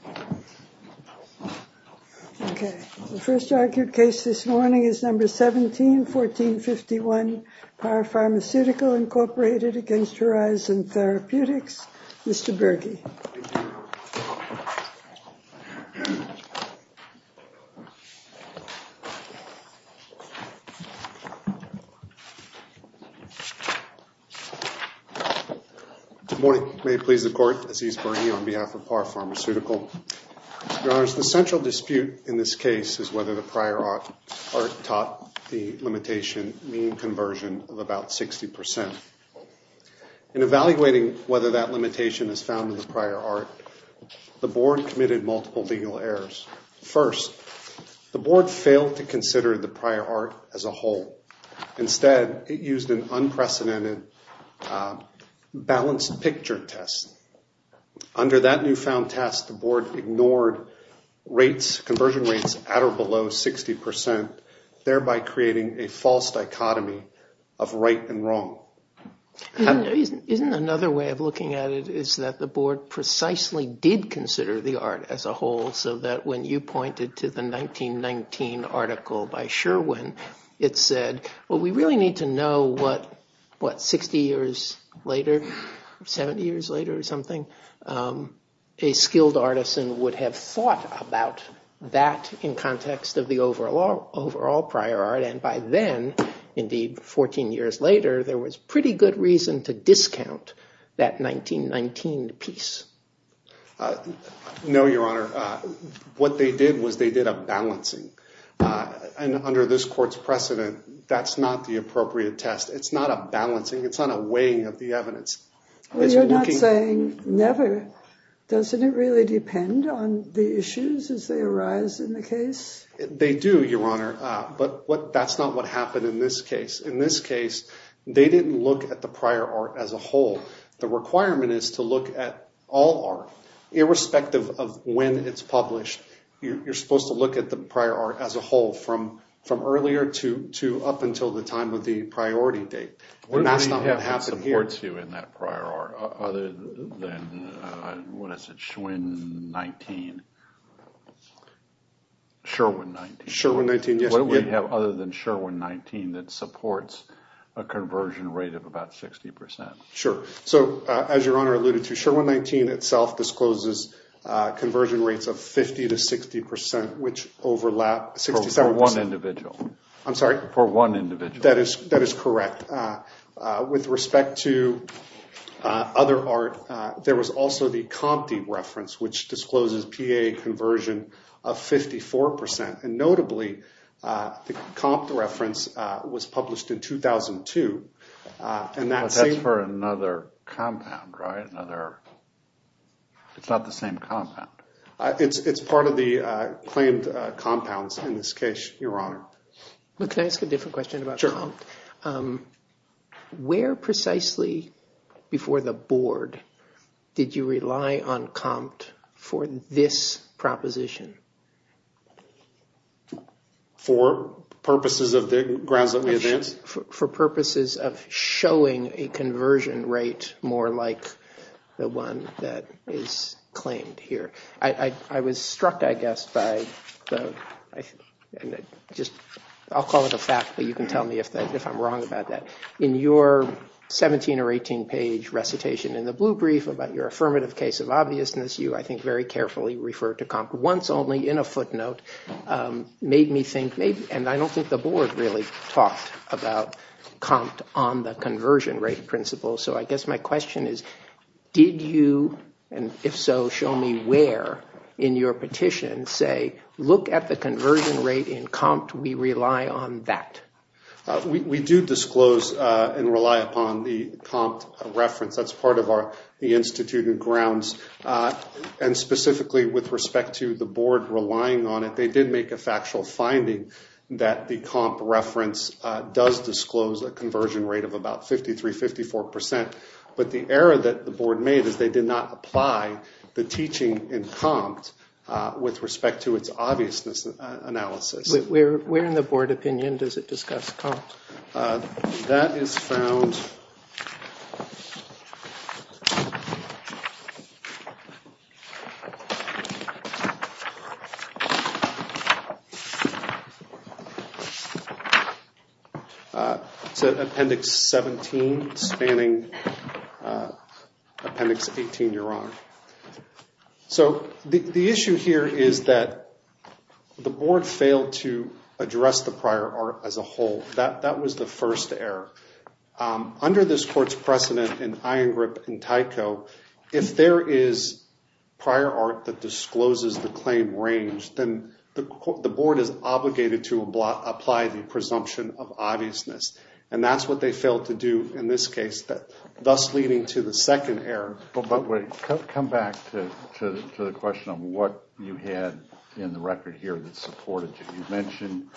17-1451 Par Pharmaceutical, Inc. v. Horizon Therapeutics, Inc. Good morning. May it please the Court, Aziz Birney on behalf of Par Pharmaceutical. Your Honor, the central dispute in this case is whether the prior art taught the limitation of about 60 percent. In evaluating whether that limitation is found in the prior art, the Board committed multiple legal errors. First, the Board failed to consider the prior art as a whole. Instead, it used an unprecedented balanced picture test. Under that newfound test, the Board ignored rates, conversion rates at or below 60 percent, thereby creating a false dichotomy of right and wrong. Isn't another way of looking at it is that the Board precisely did consider the art as a whole so that when you pointed to the 1919 article by Sherwin, it said, well, we really need to know what 60 years later, 70 years later or something, a skilled artisan would have thought about that in context of the overall prior art. And by then, indeed, 14 years later, there was pretty good reason to discount that 1919 piece. No, Your Honor. What they did was they did a balancing. And under this Court's precedent, that's not the appropriate test. It's not a balancing. It's not a weighing of the evidence. Well, you're not saying never. Doesn't it really depend on the issues as they arise in the case? They do, Your Honor. But that's not what happened in this case. In this case, they didn't look at the prior art as a whole. The requirement is to look at all art, irrespective of when it's published. You're supposed to look at the prior art as a whole from earlier to up until the time of the priority date. And that's not what happened in Sherwin-19. What do we have other than Sherwin-19 that supports a conversion rate of about 60 percent? Sure. So as Your Honor alluded to, Sherwin-19 itself discloses conversion rates of 50 to 60 percent, which overlap. For one individual. I'm sorry? For one individual. That is correct. With respect to other art, there was also the Compte reference, which discloses PAA conversion of 54 percent. And notably, the Compte reference was published in 2002. But that's for another compound, right? It's not the same compound. It's part of the claimed compounds in this case, Your Honor. But can I ask a different question about Compte? Sure. Where precisely before the board did you rely on Compte? For this proposition? For purposes of the grounds that we advance? For purposes of showing a conversion rate more like the one that is claimed here. I was struck, I guess, by the – I'll call it a fact, but you can tell me if I'm wrong about that. In your 17 or 18 page recitation in the blue brief about your affirmative case of obviousness, you, I think, very carefully referred to Compte once only in a footnote. Made me think, and I don't think the board really talked about Compte on the conversion rate principle. So I guess my question is, did you, and if so, show me where in your petition say, look at the conversion rate in Compte, we rely on that? We do disclose and rely upon the Compte reference. That's part of the institute and grounds. And specifically with respect to the board relying on it, they did make a factual finding that the Compte reference does disclose a conversion rate of about 53, 54 percent. But the error that the board made is they did not apply the teaching in Compte with respect to its obviousness analysis. Where in the board opinion does it discuss Compte? That is found – it's in Appendix 17, spanning Appendix 18, Your Honor. So the issue here is that the board failed to address the prior art as a whole. That was the first error. Under this court's precedent in Iron Grip and Tyco, if there is prior art that discloses the claim range, then the board is obligated to apply the presumption of obviousness. And that's what they failed to do in this case, thus leading to the second error. But wait, come back to the question of what you had in the record here that supported you. You mentioned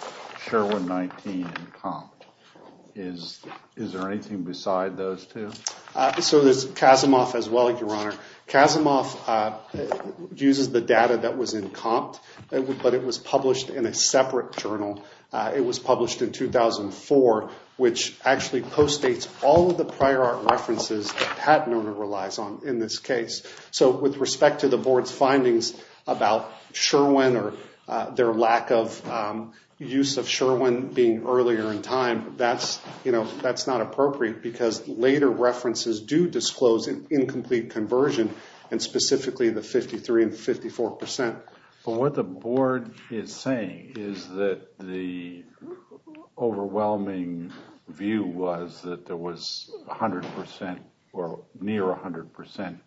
Sherwin-19 and Compte. Is there anything beside those two? So there's Kazimoff as well, Your Honor. Kazimoff uses the data that was in Compte, but it was published in a separate journal. It was published in 2004, which actually post-dates all of the prior art references that Pat Nona relies on in this case. So with respect to the board's findings about Sherwin or their lack of use of Sherwin being earlier in time, that's not appropriate because later references do disclose an incomplete conversion, and specifically the 53 and 54 percent. But what the board is saying is that the overwhelming view was that there was a prior art reference that was 100 percent or near 100 percent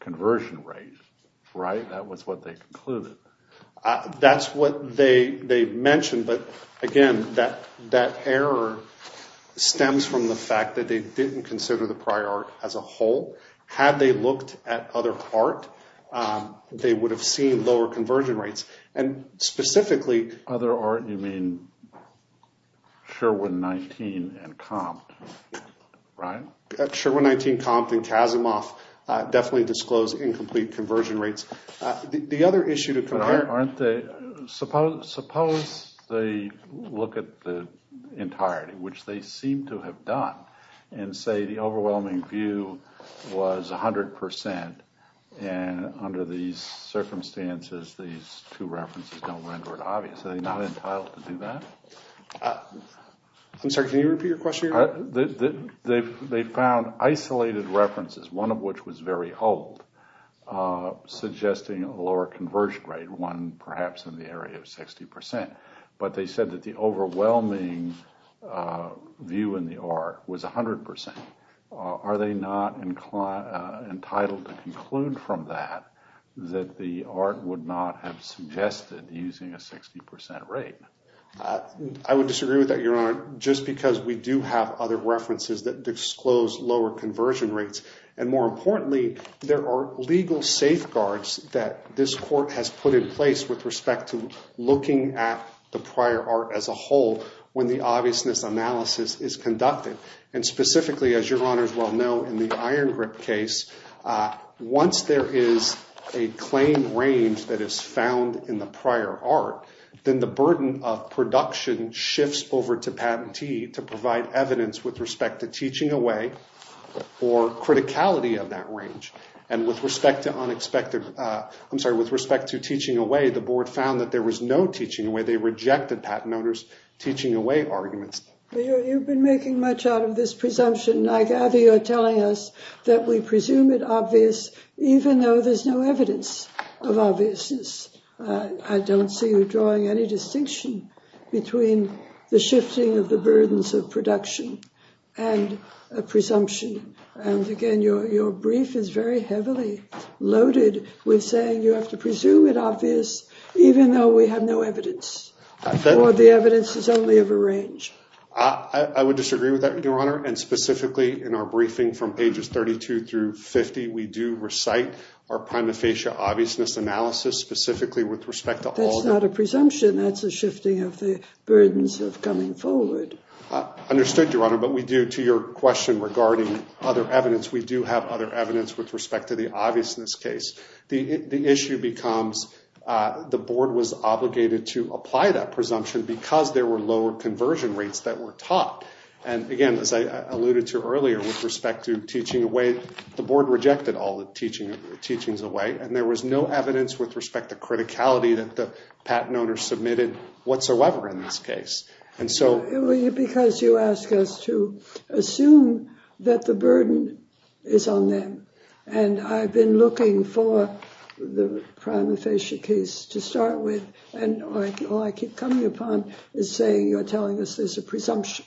conversion rate, right? That was what they concluded. That's what they mentioned, but again, that error stems from the fact that they didn't consider the prior art as a whole. Had they looked at other art, they would have seen lower conversion rates. And specifically... By other art, you mean Sherwin-19 and Compte, right? Sherwin-19, Compte, and Kazimoff definitely disclose incomplete conversion rates. The other issue to compare... But aren't they... Suppose they look at the entirety, which they seem to have done, and say the overwhelming view was 100 percent, and under these circumstances, these two references don't render it obvious. Are they not entitled to do that? I'm sorry, can you repeat your question? They found isolated references, one of which was very old, suggesting a lower conversion rate, one perhaps in the area of 60 percent. But they said that the overwhelming view in the art was 100 percent. Are they not entitled to conclude from that that the art would not have suggested using a 60 percent rate? I would disagree with that, Your Honor, just because we do have other references that disclose lower conversion rates. And more importantly, there are legal safeguards that this court has put in place with respect to looking at the prior art as a whole when the obviousness analysis is conducted. And specifically, as Your Honors well know, in the Iron Grip case, once there is a claim range that is found in the prior art, then the burden of production shifts over to patentee to provide evidence with respect to teaching away or criticality of that range. And with respect to unexpected... I'm sorry, with respect to teaching away, the board found that there was no teaching away. They rejected patent owners' teaching away arguments. You've been making much out of this presumption. I gather you're telling us that we presume it obvious even though there's no evidence of obviousness. I don't see you drawing any distinction between the shifting of the burdens of production and a presumption. And again, your brief is very heavily loaded with saying you have to presume it obvious even though we have no evidence or the evidence is only of a range. I would disagree with that, Your Honor. And specifically, in our briefing from pages 32 through 50, we do recite our prima facie obviousness analysis specifically with respect to all... That's not a presumption. That's a shifting of the burdens of coming forward. Understood, Your Honor. But we do, to your question regarding other evidence, we do have other evidence with respect to the obviousness case. The issue becomes the board was obligated to apply that presumption because there were lower conversion rates that were taught. And again, as I alluded to earlier with respect to teaching away, the board rejected all the teachings away and there was no evidence with respect to criticality that the patent owner submitted whatsoever in this case. And so... I've been looking for the prima facie case to start with and all I keep coming upon is saying you're telling us there's a presumption.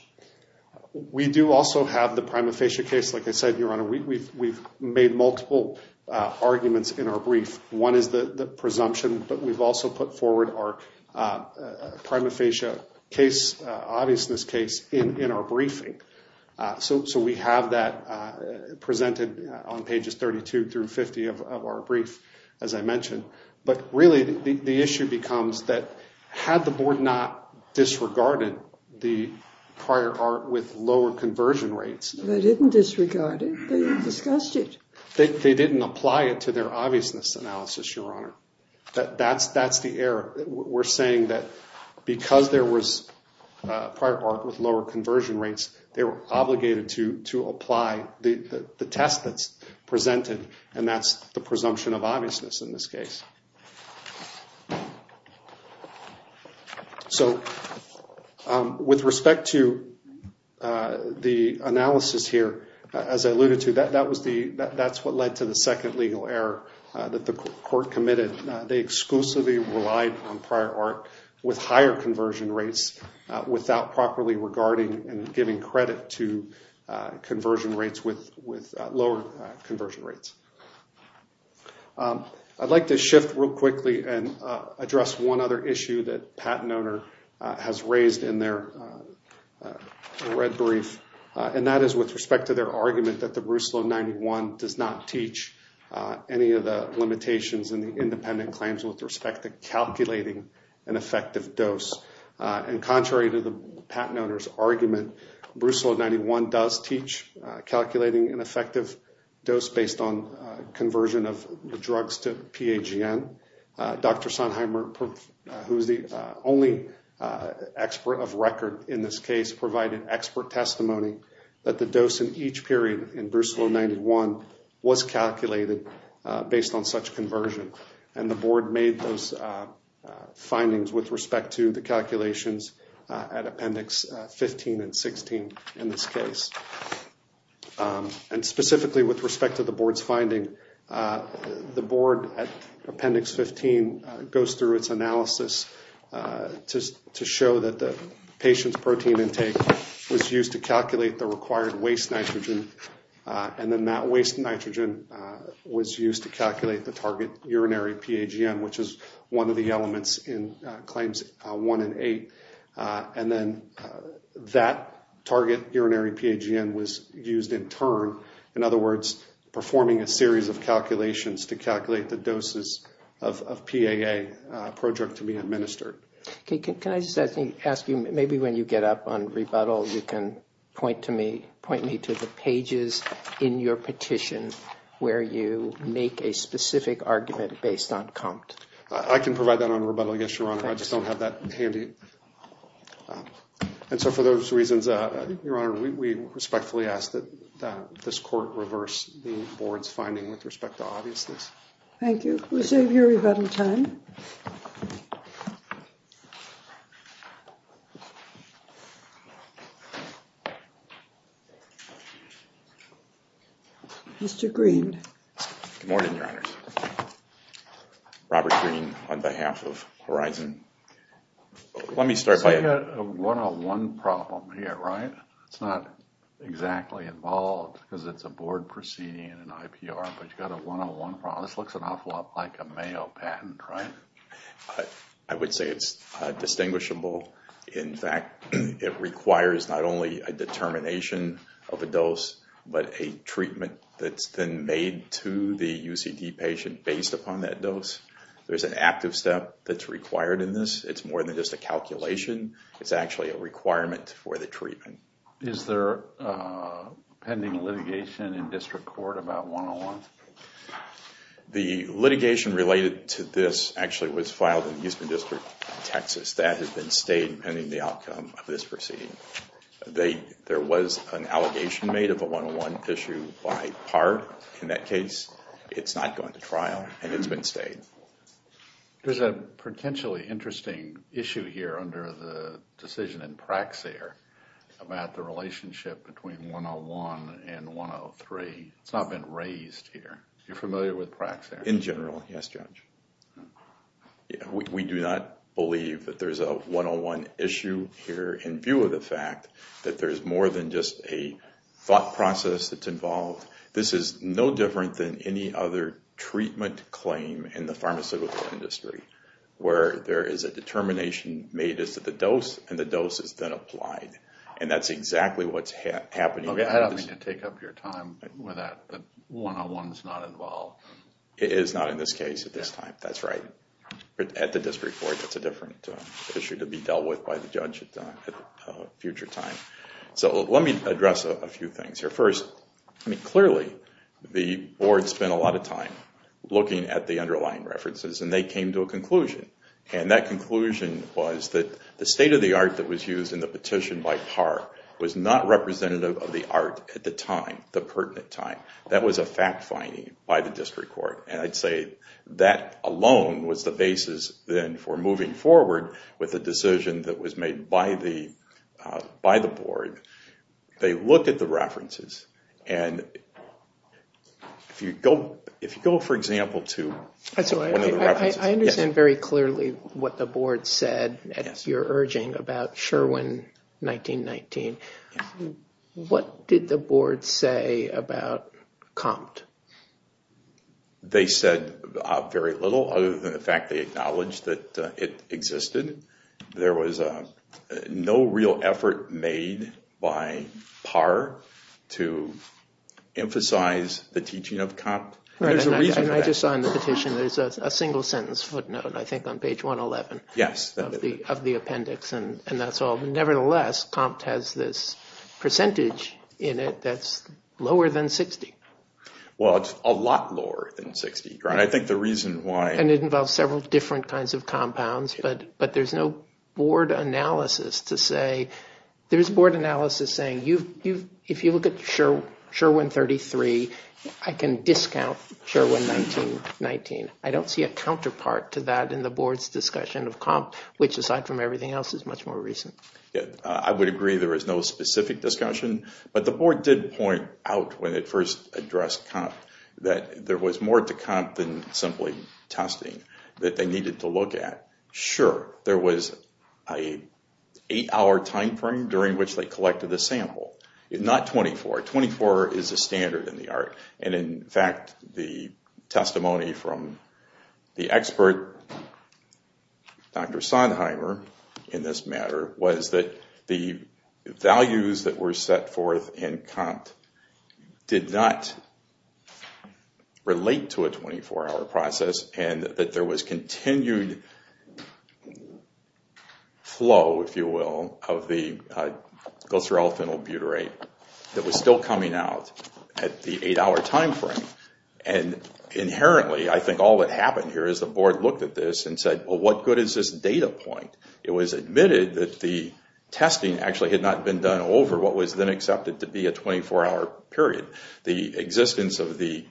We do also have the prima facie case. Like I said, Your Honor, we've made multiple arguments in our brief. One is the presumption, but we've also put forward our prima facie case, obviousness case in our briefing. So we have that presented on pages 32 through 50 of our brief, as I mentioned. But really, the issue becomes that had the board not disregarded the prior art with lower conversion rates... They didn't disregard it. They discussed it. They didn't apply it to their obviousness analysis, Your Honor. That's the error. We're saying that because there was prior art with lower conversion rates, they were obligated to apply the test that's presented and that's the presumption of obviousness in this case. So with respect to the analysis here, as I alluded to, that's what led to the second legal error that the court committed. They exclusively relied on prior art with higher conversion rates without properly regarding and giving credit to conversion rates with lower conversion rates. I'd like to shift real quickly and address one other issue that PatentOwner has raised in their red brief, and that is with respect to their argument that the Bruce Law 91 does not teach any of the limitations in the independent claims with respect to calculating an effective dose. And contrary to the PatentOwner's argument, Bruce Law 91 does teach calculating an effective dose based on conversion of the drugs to PAGN. Dr. Sonheimer, who's the only expert of record in this case, provided expert testimony that the dose in each period in Bruce Law 91 was up to the calculations at Appendix 15 and 16 in this case. And specifically with respect to the board's finding, the board at Appendix 15 goes through its analysis to show that the patient's protein intake was used to calculate the required waste nitrogen and then that waste nitrogen was used to calculate the target urinary PAGN, which is one of the elements in Claims 1 and 8. And then that target urinary PAGN was used in turn, in other words, performing a series of calculations to calculate the doses of PAA, a project to be administered. Can I just ask you, maybe when you get up on rebuttal, you can point me to the pages in your petition where you make a specific argument based on Compt? I can provide that on rebuttal, yes, Your Honor. I just don't have that handy. And so for those reasons, Your Honor, we respectfully ask that this court reverse the board's finding with respect to obviousness. Thank you. We'll save you rebuttal time. Mr. Greene. Good morning, Your Honor. Robert Greene on behalf of Horizon. Let me start by... So you've got a one-on-one problem here, right? It's not exactly involved because it's a board proceeding and an IPR, but you've got a one-on-one problem. This looks an awful lot like a Mayo patent, right? I would say it's distinguishable. In fact, it requires not only a determination of a dose, but a treatment that's then made to the UCD patient based upon that dose. There's an active step that's required in this. It's more than just a calculation. It's actually a requirement for the treatment. Is there a pending litigation in district court about one-on-one? The litigation related to this actually was filed in the Houston District, Texas. That is a one-on-one issue by part in that case. It's not going to trial and it's been stayed. There's a potentially interesting issue here under the decision in Praxair about the relationship between one-on-one and one-on-three. It's not been raised here. You're familiar with Praxair? In general, yes, Judge. We do not believe that there's a one-on-one issue here in view of the fact that there's more than just a thought process that's involved. This is no different than any other treatment claim in the pharmaceutical industry where there is a determination made as to the dose and the dose is then applied. That's exactly what's happening. I don't mean to take up your time with that, but one-on-one is not involved. It is not in this case at this time. That's right. At the district court, that's a different issue to be dealt with by the judge at a future time. Let me address a few things here. First, clearly the board spent a lot of time looking at the underlying references and they came to a conclusion. That conclusion was that the state of the art that was used in the petition by par was not representative of the art at the time, the pertinent time. That was a fact finding by the district court. I'd say that alone was the basis then for moving forward with the decision that was made by the board. They looked at the references and if you go, for example, to one of the references. I understand very clearly what the board said at your urging about Sherwin 1919. What did the board say about Compt? They said very little other than the fact they acknowledged that it existed. There was no real effort made by par to emphasize the teaching of Compt. I just saw in the petition there's a single sentence footnote, I think on page 111 of the appendix. Nevertheless, Compt has this percentage in it that's lower than 60. Well, it's a lot lower than 60. It involves several different kinds of compounds, but there's no board analysis to say, there's board analysis saying if you look at Sherwin 1933, I can discount Sherwin 1919. I don't see a counterpart to that in the board's discussion of Compt, which aside from everything else is much more recent. I would agree there is no specific discussion, but the board did point out when it first addressed Compt that there was more to Compt than simply testing that they needed to look at. Sure, there was an eight hour time frame during which they collected the sample. Not 24. 24 is a standard in the art. In fact, the testimony from the expert, Dr. Sonheimer, in this matter, was that the values that were set forth in Compt did not relate to a 24 hour process and that there was continued flow, if you will, of the glycerol phenyl butyrate that was still coming out at the eight hour time frame. Inherently, I think all that happened here is the board looked at this and said, well, what good is this data point? It was admitted that the testing actually had not been done over what was then accepted to be a 24 hour period. The existence of the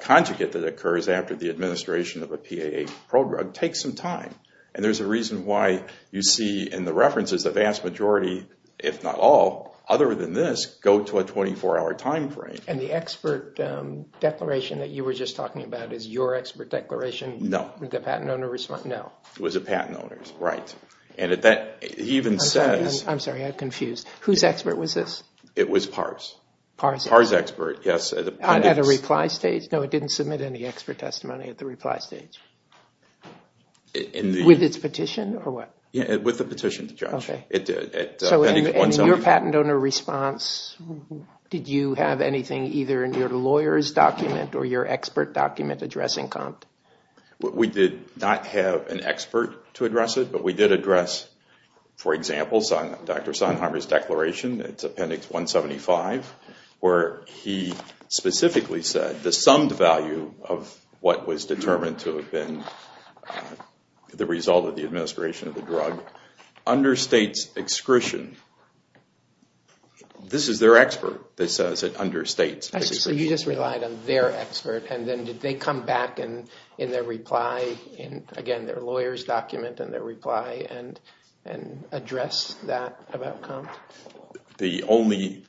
conjugate that occurs after the administration of a PAA pro-drug takes some time. There's a reason why you see in the references the vast majority, if not all, other than this, go to a 24 hour time frame. And the expert declaration that you were just talking about is your expert declaration? No. It was a patent owner's. I'm sorry, I'm confused. Whose expert was this? It was PARS. PARS expert, yes. At a reply stage? No, it didn't submit any expert testimony at the reply stage. With its petition or what? With the petition, Judge. So in your patent owner response, did you have anything either in your lawyer's document or your expert document addressing COMPT? We did not have an expert to address it, but we did address, for example, Dr. Sondheimer's declaration, its appendix 175, where he specifically said the summed value of what was determined to have been the result of the administration of the drug understates excretion. This is their expert that says it understates excretion. So you just relied on their expert, and then did they come back in their reply, again, their lawyer's document and their reply, and address that about COMPT? The only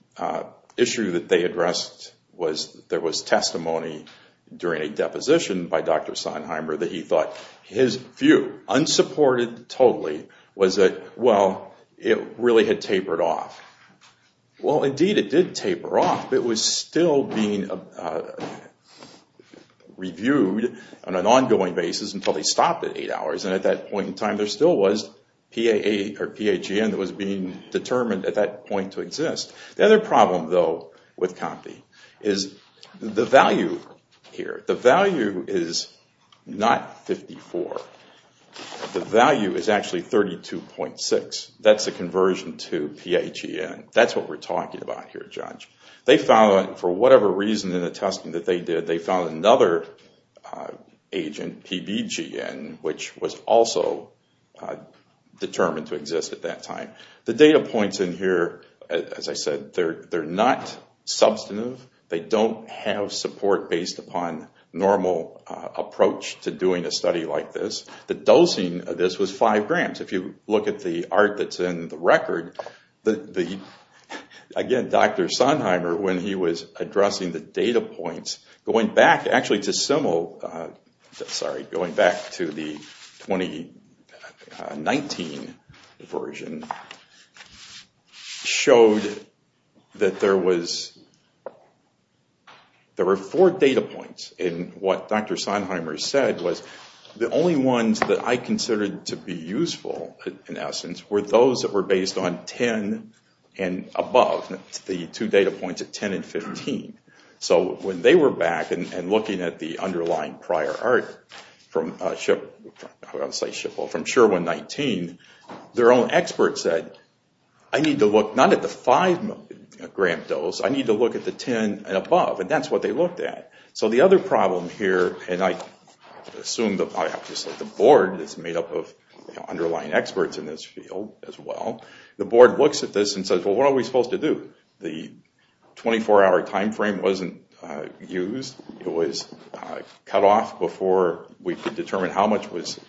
issue that they addressed was there was testimony during a deposition by Dr. Sondheimer that he thought his view, unsupported totally, was that, well, it really had tapered off. Well, indeed, it did taper off. It was still being reviewed on an ongoing basis until they stopped at eight hours, and at that point in time, there still was PAGN that was being determined at that point to exist. The other problem, though, with COMPT is the value here. The value is not 54. The value is actually 32.6. That's a conversion to PAGN. That's what we're talking about here, Judge. They found, for whatever reason in the testing that they did, they found another agent, PBGN, which was also determined to exist at that time. The data points in here, as I said, they're not substantive. They don't have support based upon normal approach to doing a study like this. The dosing of this was five grams. If you look at the art that's in the record, again, Dr. Sondheimer, when he was addressing the data points, going back to the 2019 version, showed that there were four data points. What Dr. Sondheimer said was the only ones that I considered to be useful, in essence, were those that were based on 10 and above. The two data points at 10 and 15. When they were back and looking at the underlying prior art from SHER-119, their own expert said, I need to look not at the five gram dose, I need to look at the 10 and above. That's what they looked at. The board is made up of underlying experts in this field as well. The board looks at this and says, what are we supposed to do? The 24 hour time frame wasn't used. It was cut off before we could determine how much was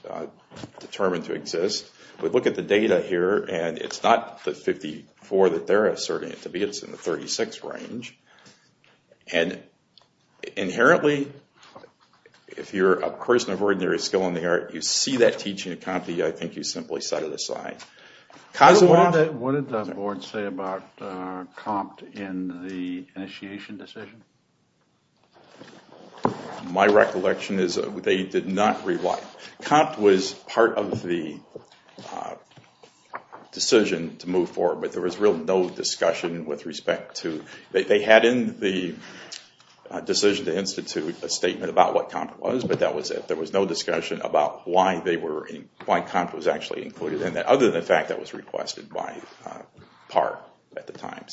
determined to exist. We look at the data here and it's not the 54 that they're asserting it to be, it's in the 36 range. Inherently, if you're a person of ordinary skill in the art, you see that teaching at Compte, I think you simply set it aside. What did the board say about Compte in the initiation decision? My recollection is that they did not rely on it. Compte was part of the decision to move forward, but there was really no discussion. They had in the decision to institute a statement about what Compte was, but that was it. There was no discussion about why Compte was actually included in that, other than the fact that it was requested by Parr at the time.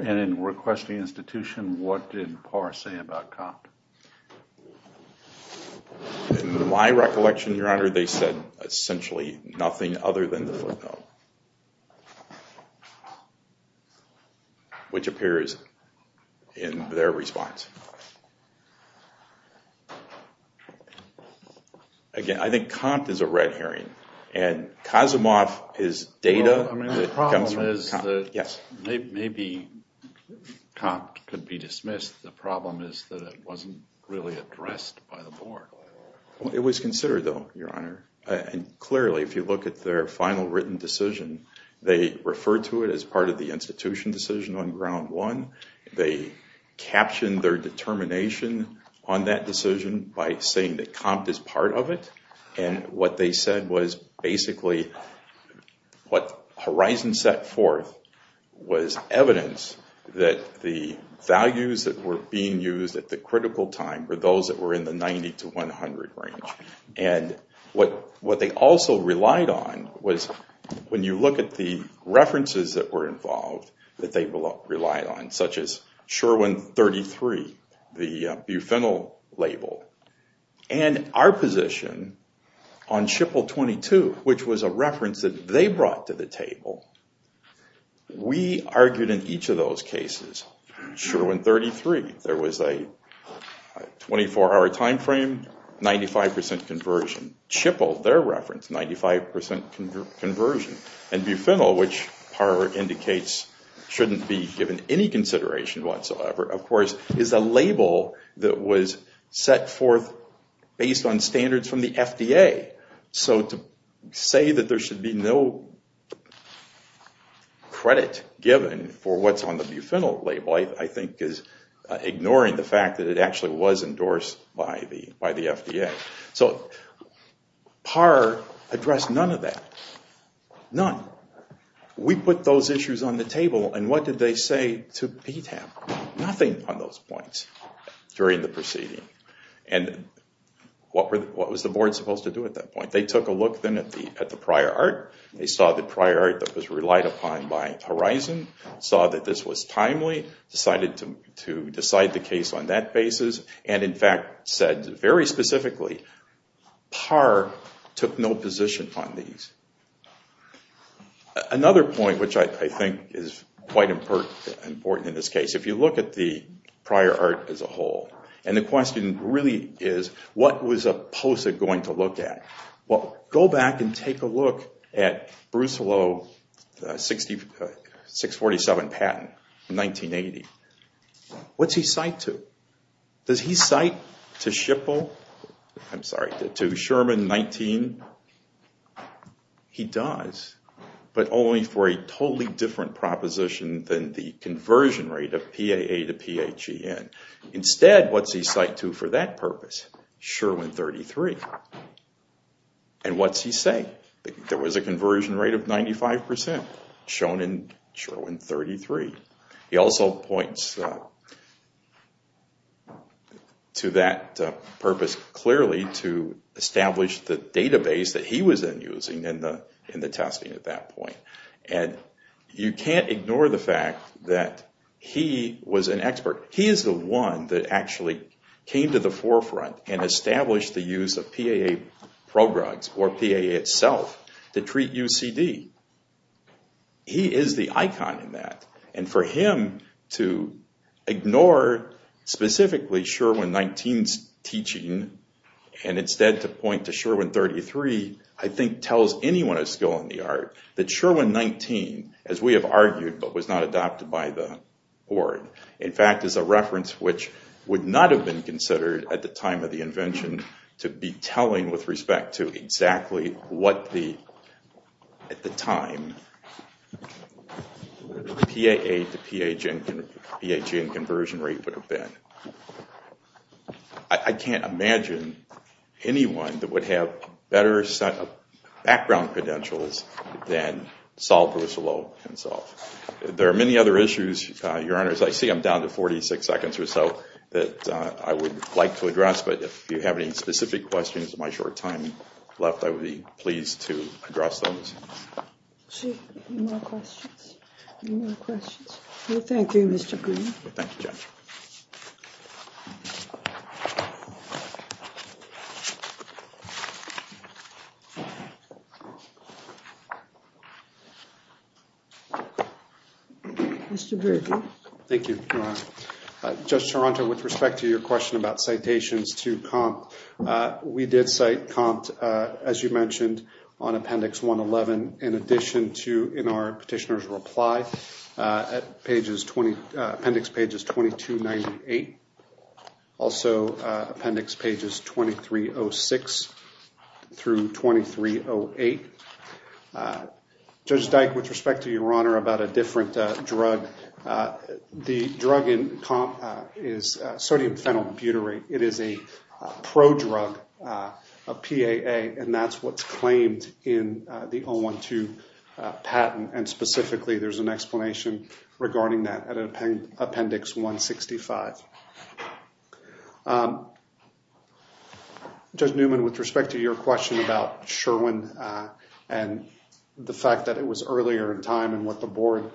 In requesting institution, what did Parr say about Compte? In my recollection, Your Honor, they said essentially nothing other than the footnote, which appears in their response. Again, I think Compte is a red herring and Kazimoff is data that comes from Compte. The problem is that maybe Compte could be dismissed. The problem is that it wasn't really addressed by the board. It was considered, though, Your Honor. Clearly, if you look at their final written decision, they referred to it as part of the institution decision on ground one. They captioned their determination on that decision by saying that Compte is part of it. What they said was basically what Horizon set forth was evidence that the values that were being used at the critical time were those that were in the 90 to 100 range. What they also relied on was when you look at the references that were involved that they relied on, such as Sherwin-33, the Bufenil label, and our position on SHPL-22, which was a reference that they brought to the table, we argued in each of those cases. Sherwin-33, there was a 24-hour time frame, 95% conversion. SHPL, their reference, 95% conversion. Bufenil, which PAR indicates shouldn't be given any consideration whatsoever, of course, is a label that was set forth based on standards from the FDA. To say that there should be no credit given for what's on the Bufenil label, I think is ignoring the fact that it actually was endorsed by the FDA. PAR addressed none of that. None. We put those issues on the table and what did they say to PTAP? Nothing on those points during the proceeding. What was the board supposed to do at that point? They took a look then at the prior art, they saw the prior art that was relied upon by Horizon, saw that this was timely, decided to decide the case on that basis, and in fact said very specifically, PAR took no position on these. Another point, which I think is quite important in this case, if you look at the prior art as a whole, and the question really is, what was POSA going to look at? Go back and take a look at Bruce Hullo 647 patent, 1980. What's he cite to? Does he cite to SHPL? I'm sorry, to Sherman 19? He does, but only for a totally different proposition than the conversion rate of PAA to PHEN. Instead, what's he cite to for that purpose? Sherwin 33. And what's he say? There was a conversion rate of 95% shown in Sherwin 33. He also points to that purpose clearly to establish the database that he was then using in the testing at that point. You can't ignore the fact that he was an expert. He is the one that actually came to the forefront and established the use of PAA programs or PAA itself to treat UCD. He is the icon in that, and for him to ignore specifically Sherwin 19's teaching and instead to point to Sherwin 33, I think tells anyone of skill in the art that Sherwin 19, as we have argued but was not adopted by the board, in fact is a reference which would not have been considered at the time of the invention to be telling with respect to exactly what the, at the time, the PAA to PHEN conversion rate would have been. I can't imagine anyone that would have better set of background credentials than Sol Vercelot can solve. There are many other issues, Your Honors. I see I'm down to 46 seconds or so that I would like to address, but if you have any specific questions with my short time left, I would be pleased to address those. Any more questions? Any more questions? Well, thank you, Mr. Green. Thank you, Judge. Mr. Berger. Thank you, Your Honor. Judge Toronto, with respect to your question about citations to COMP, we did cite COMP, as you mentioned, on Appendix 111. In addition to in our petitioner's reply at pages 20, appendix pages 2298, also appendix pages 2306 through 2308. Judge Dyke, with respect to your honor about a different drug. The drug in COMP is sodium phenyl butyrate. It is a prodrug, a PAA, and that's what's claimed in the 012 patent, and specifically there's an explanation regarding that at appendix 165. Judge Newman, with respect to your question about Sherwin and the fact that it was earlier in time and what the board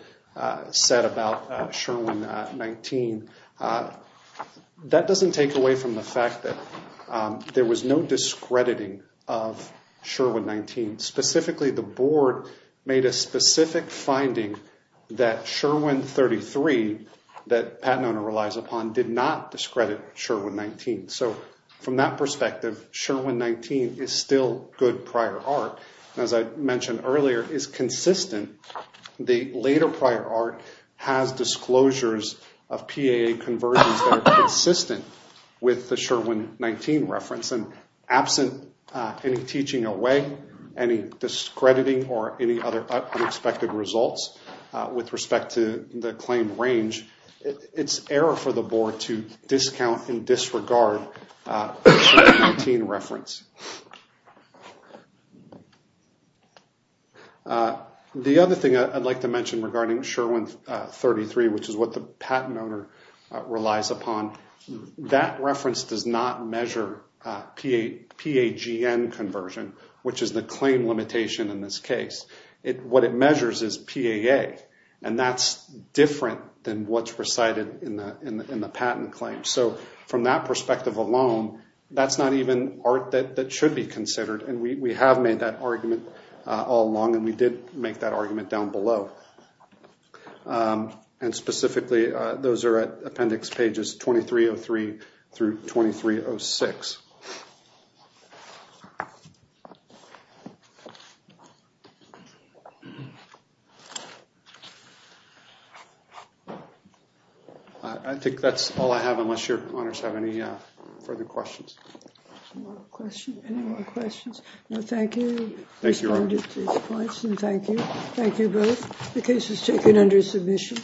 said about Sherwin-19, that doesn't take away from the fact that there was no discrediting of Sherwin-19. Specifically, the board made a specific finding that Sherwin-33, that Pat Nona relies upon, did not discredit Sherwin-19. So, from that perspective, Sherwin-19 is still good prior art, and as I mentioned earlier, is consistent. The later prior art has disclosures of PAA conversions that are consistent with the Sherwin-19 reference. Absent any teaching away, any discrediting, or any other unexpected results with respect to the claimed range, it's error for the board to discount and disregard the Sherwin-19 reference. The other thing I'd like to mention regarding Sherwin-33, which is what the Pat Nona relies upon, that reference does not measure PAGN conversion, which is the claim limitation in this case. What it measures is PAA, and that's different than what's presided in the patent claim. So, from that perspective alone, that's not even art that should be considered, and we have made that argument all along, and we did make that argument down below. And specifically, those are at appendix pages 2303 through 2306. I think that's all I have, unless your honors have any further questions. Any more questions? Well, thank you. Thank you, Your Honor. Thank you. Thank you both. The case is taken under submission.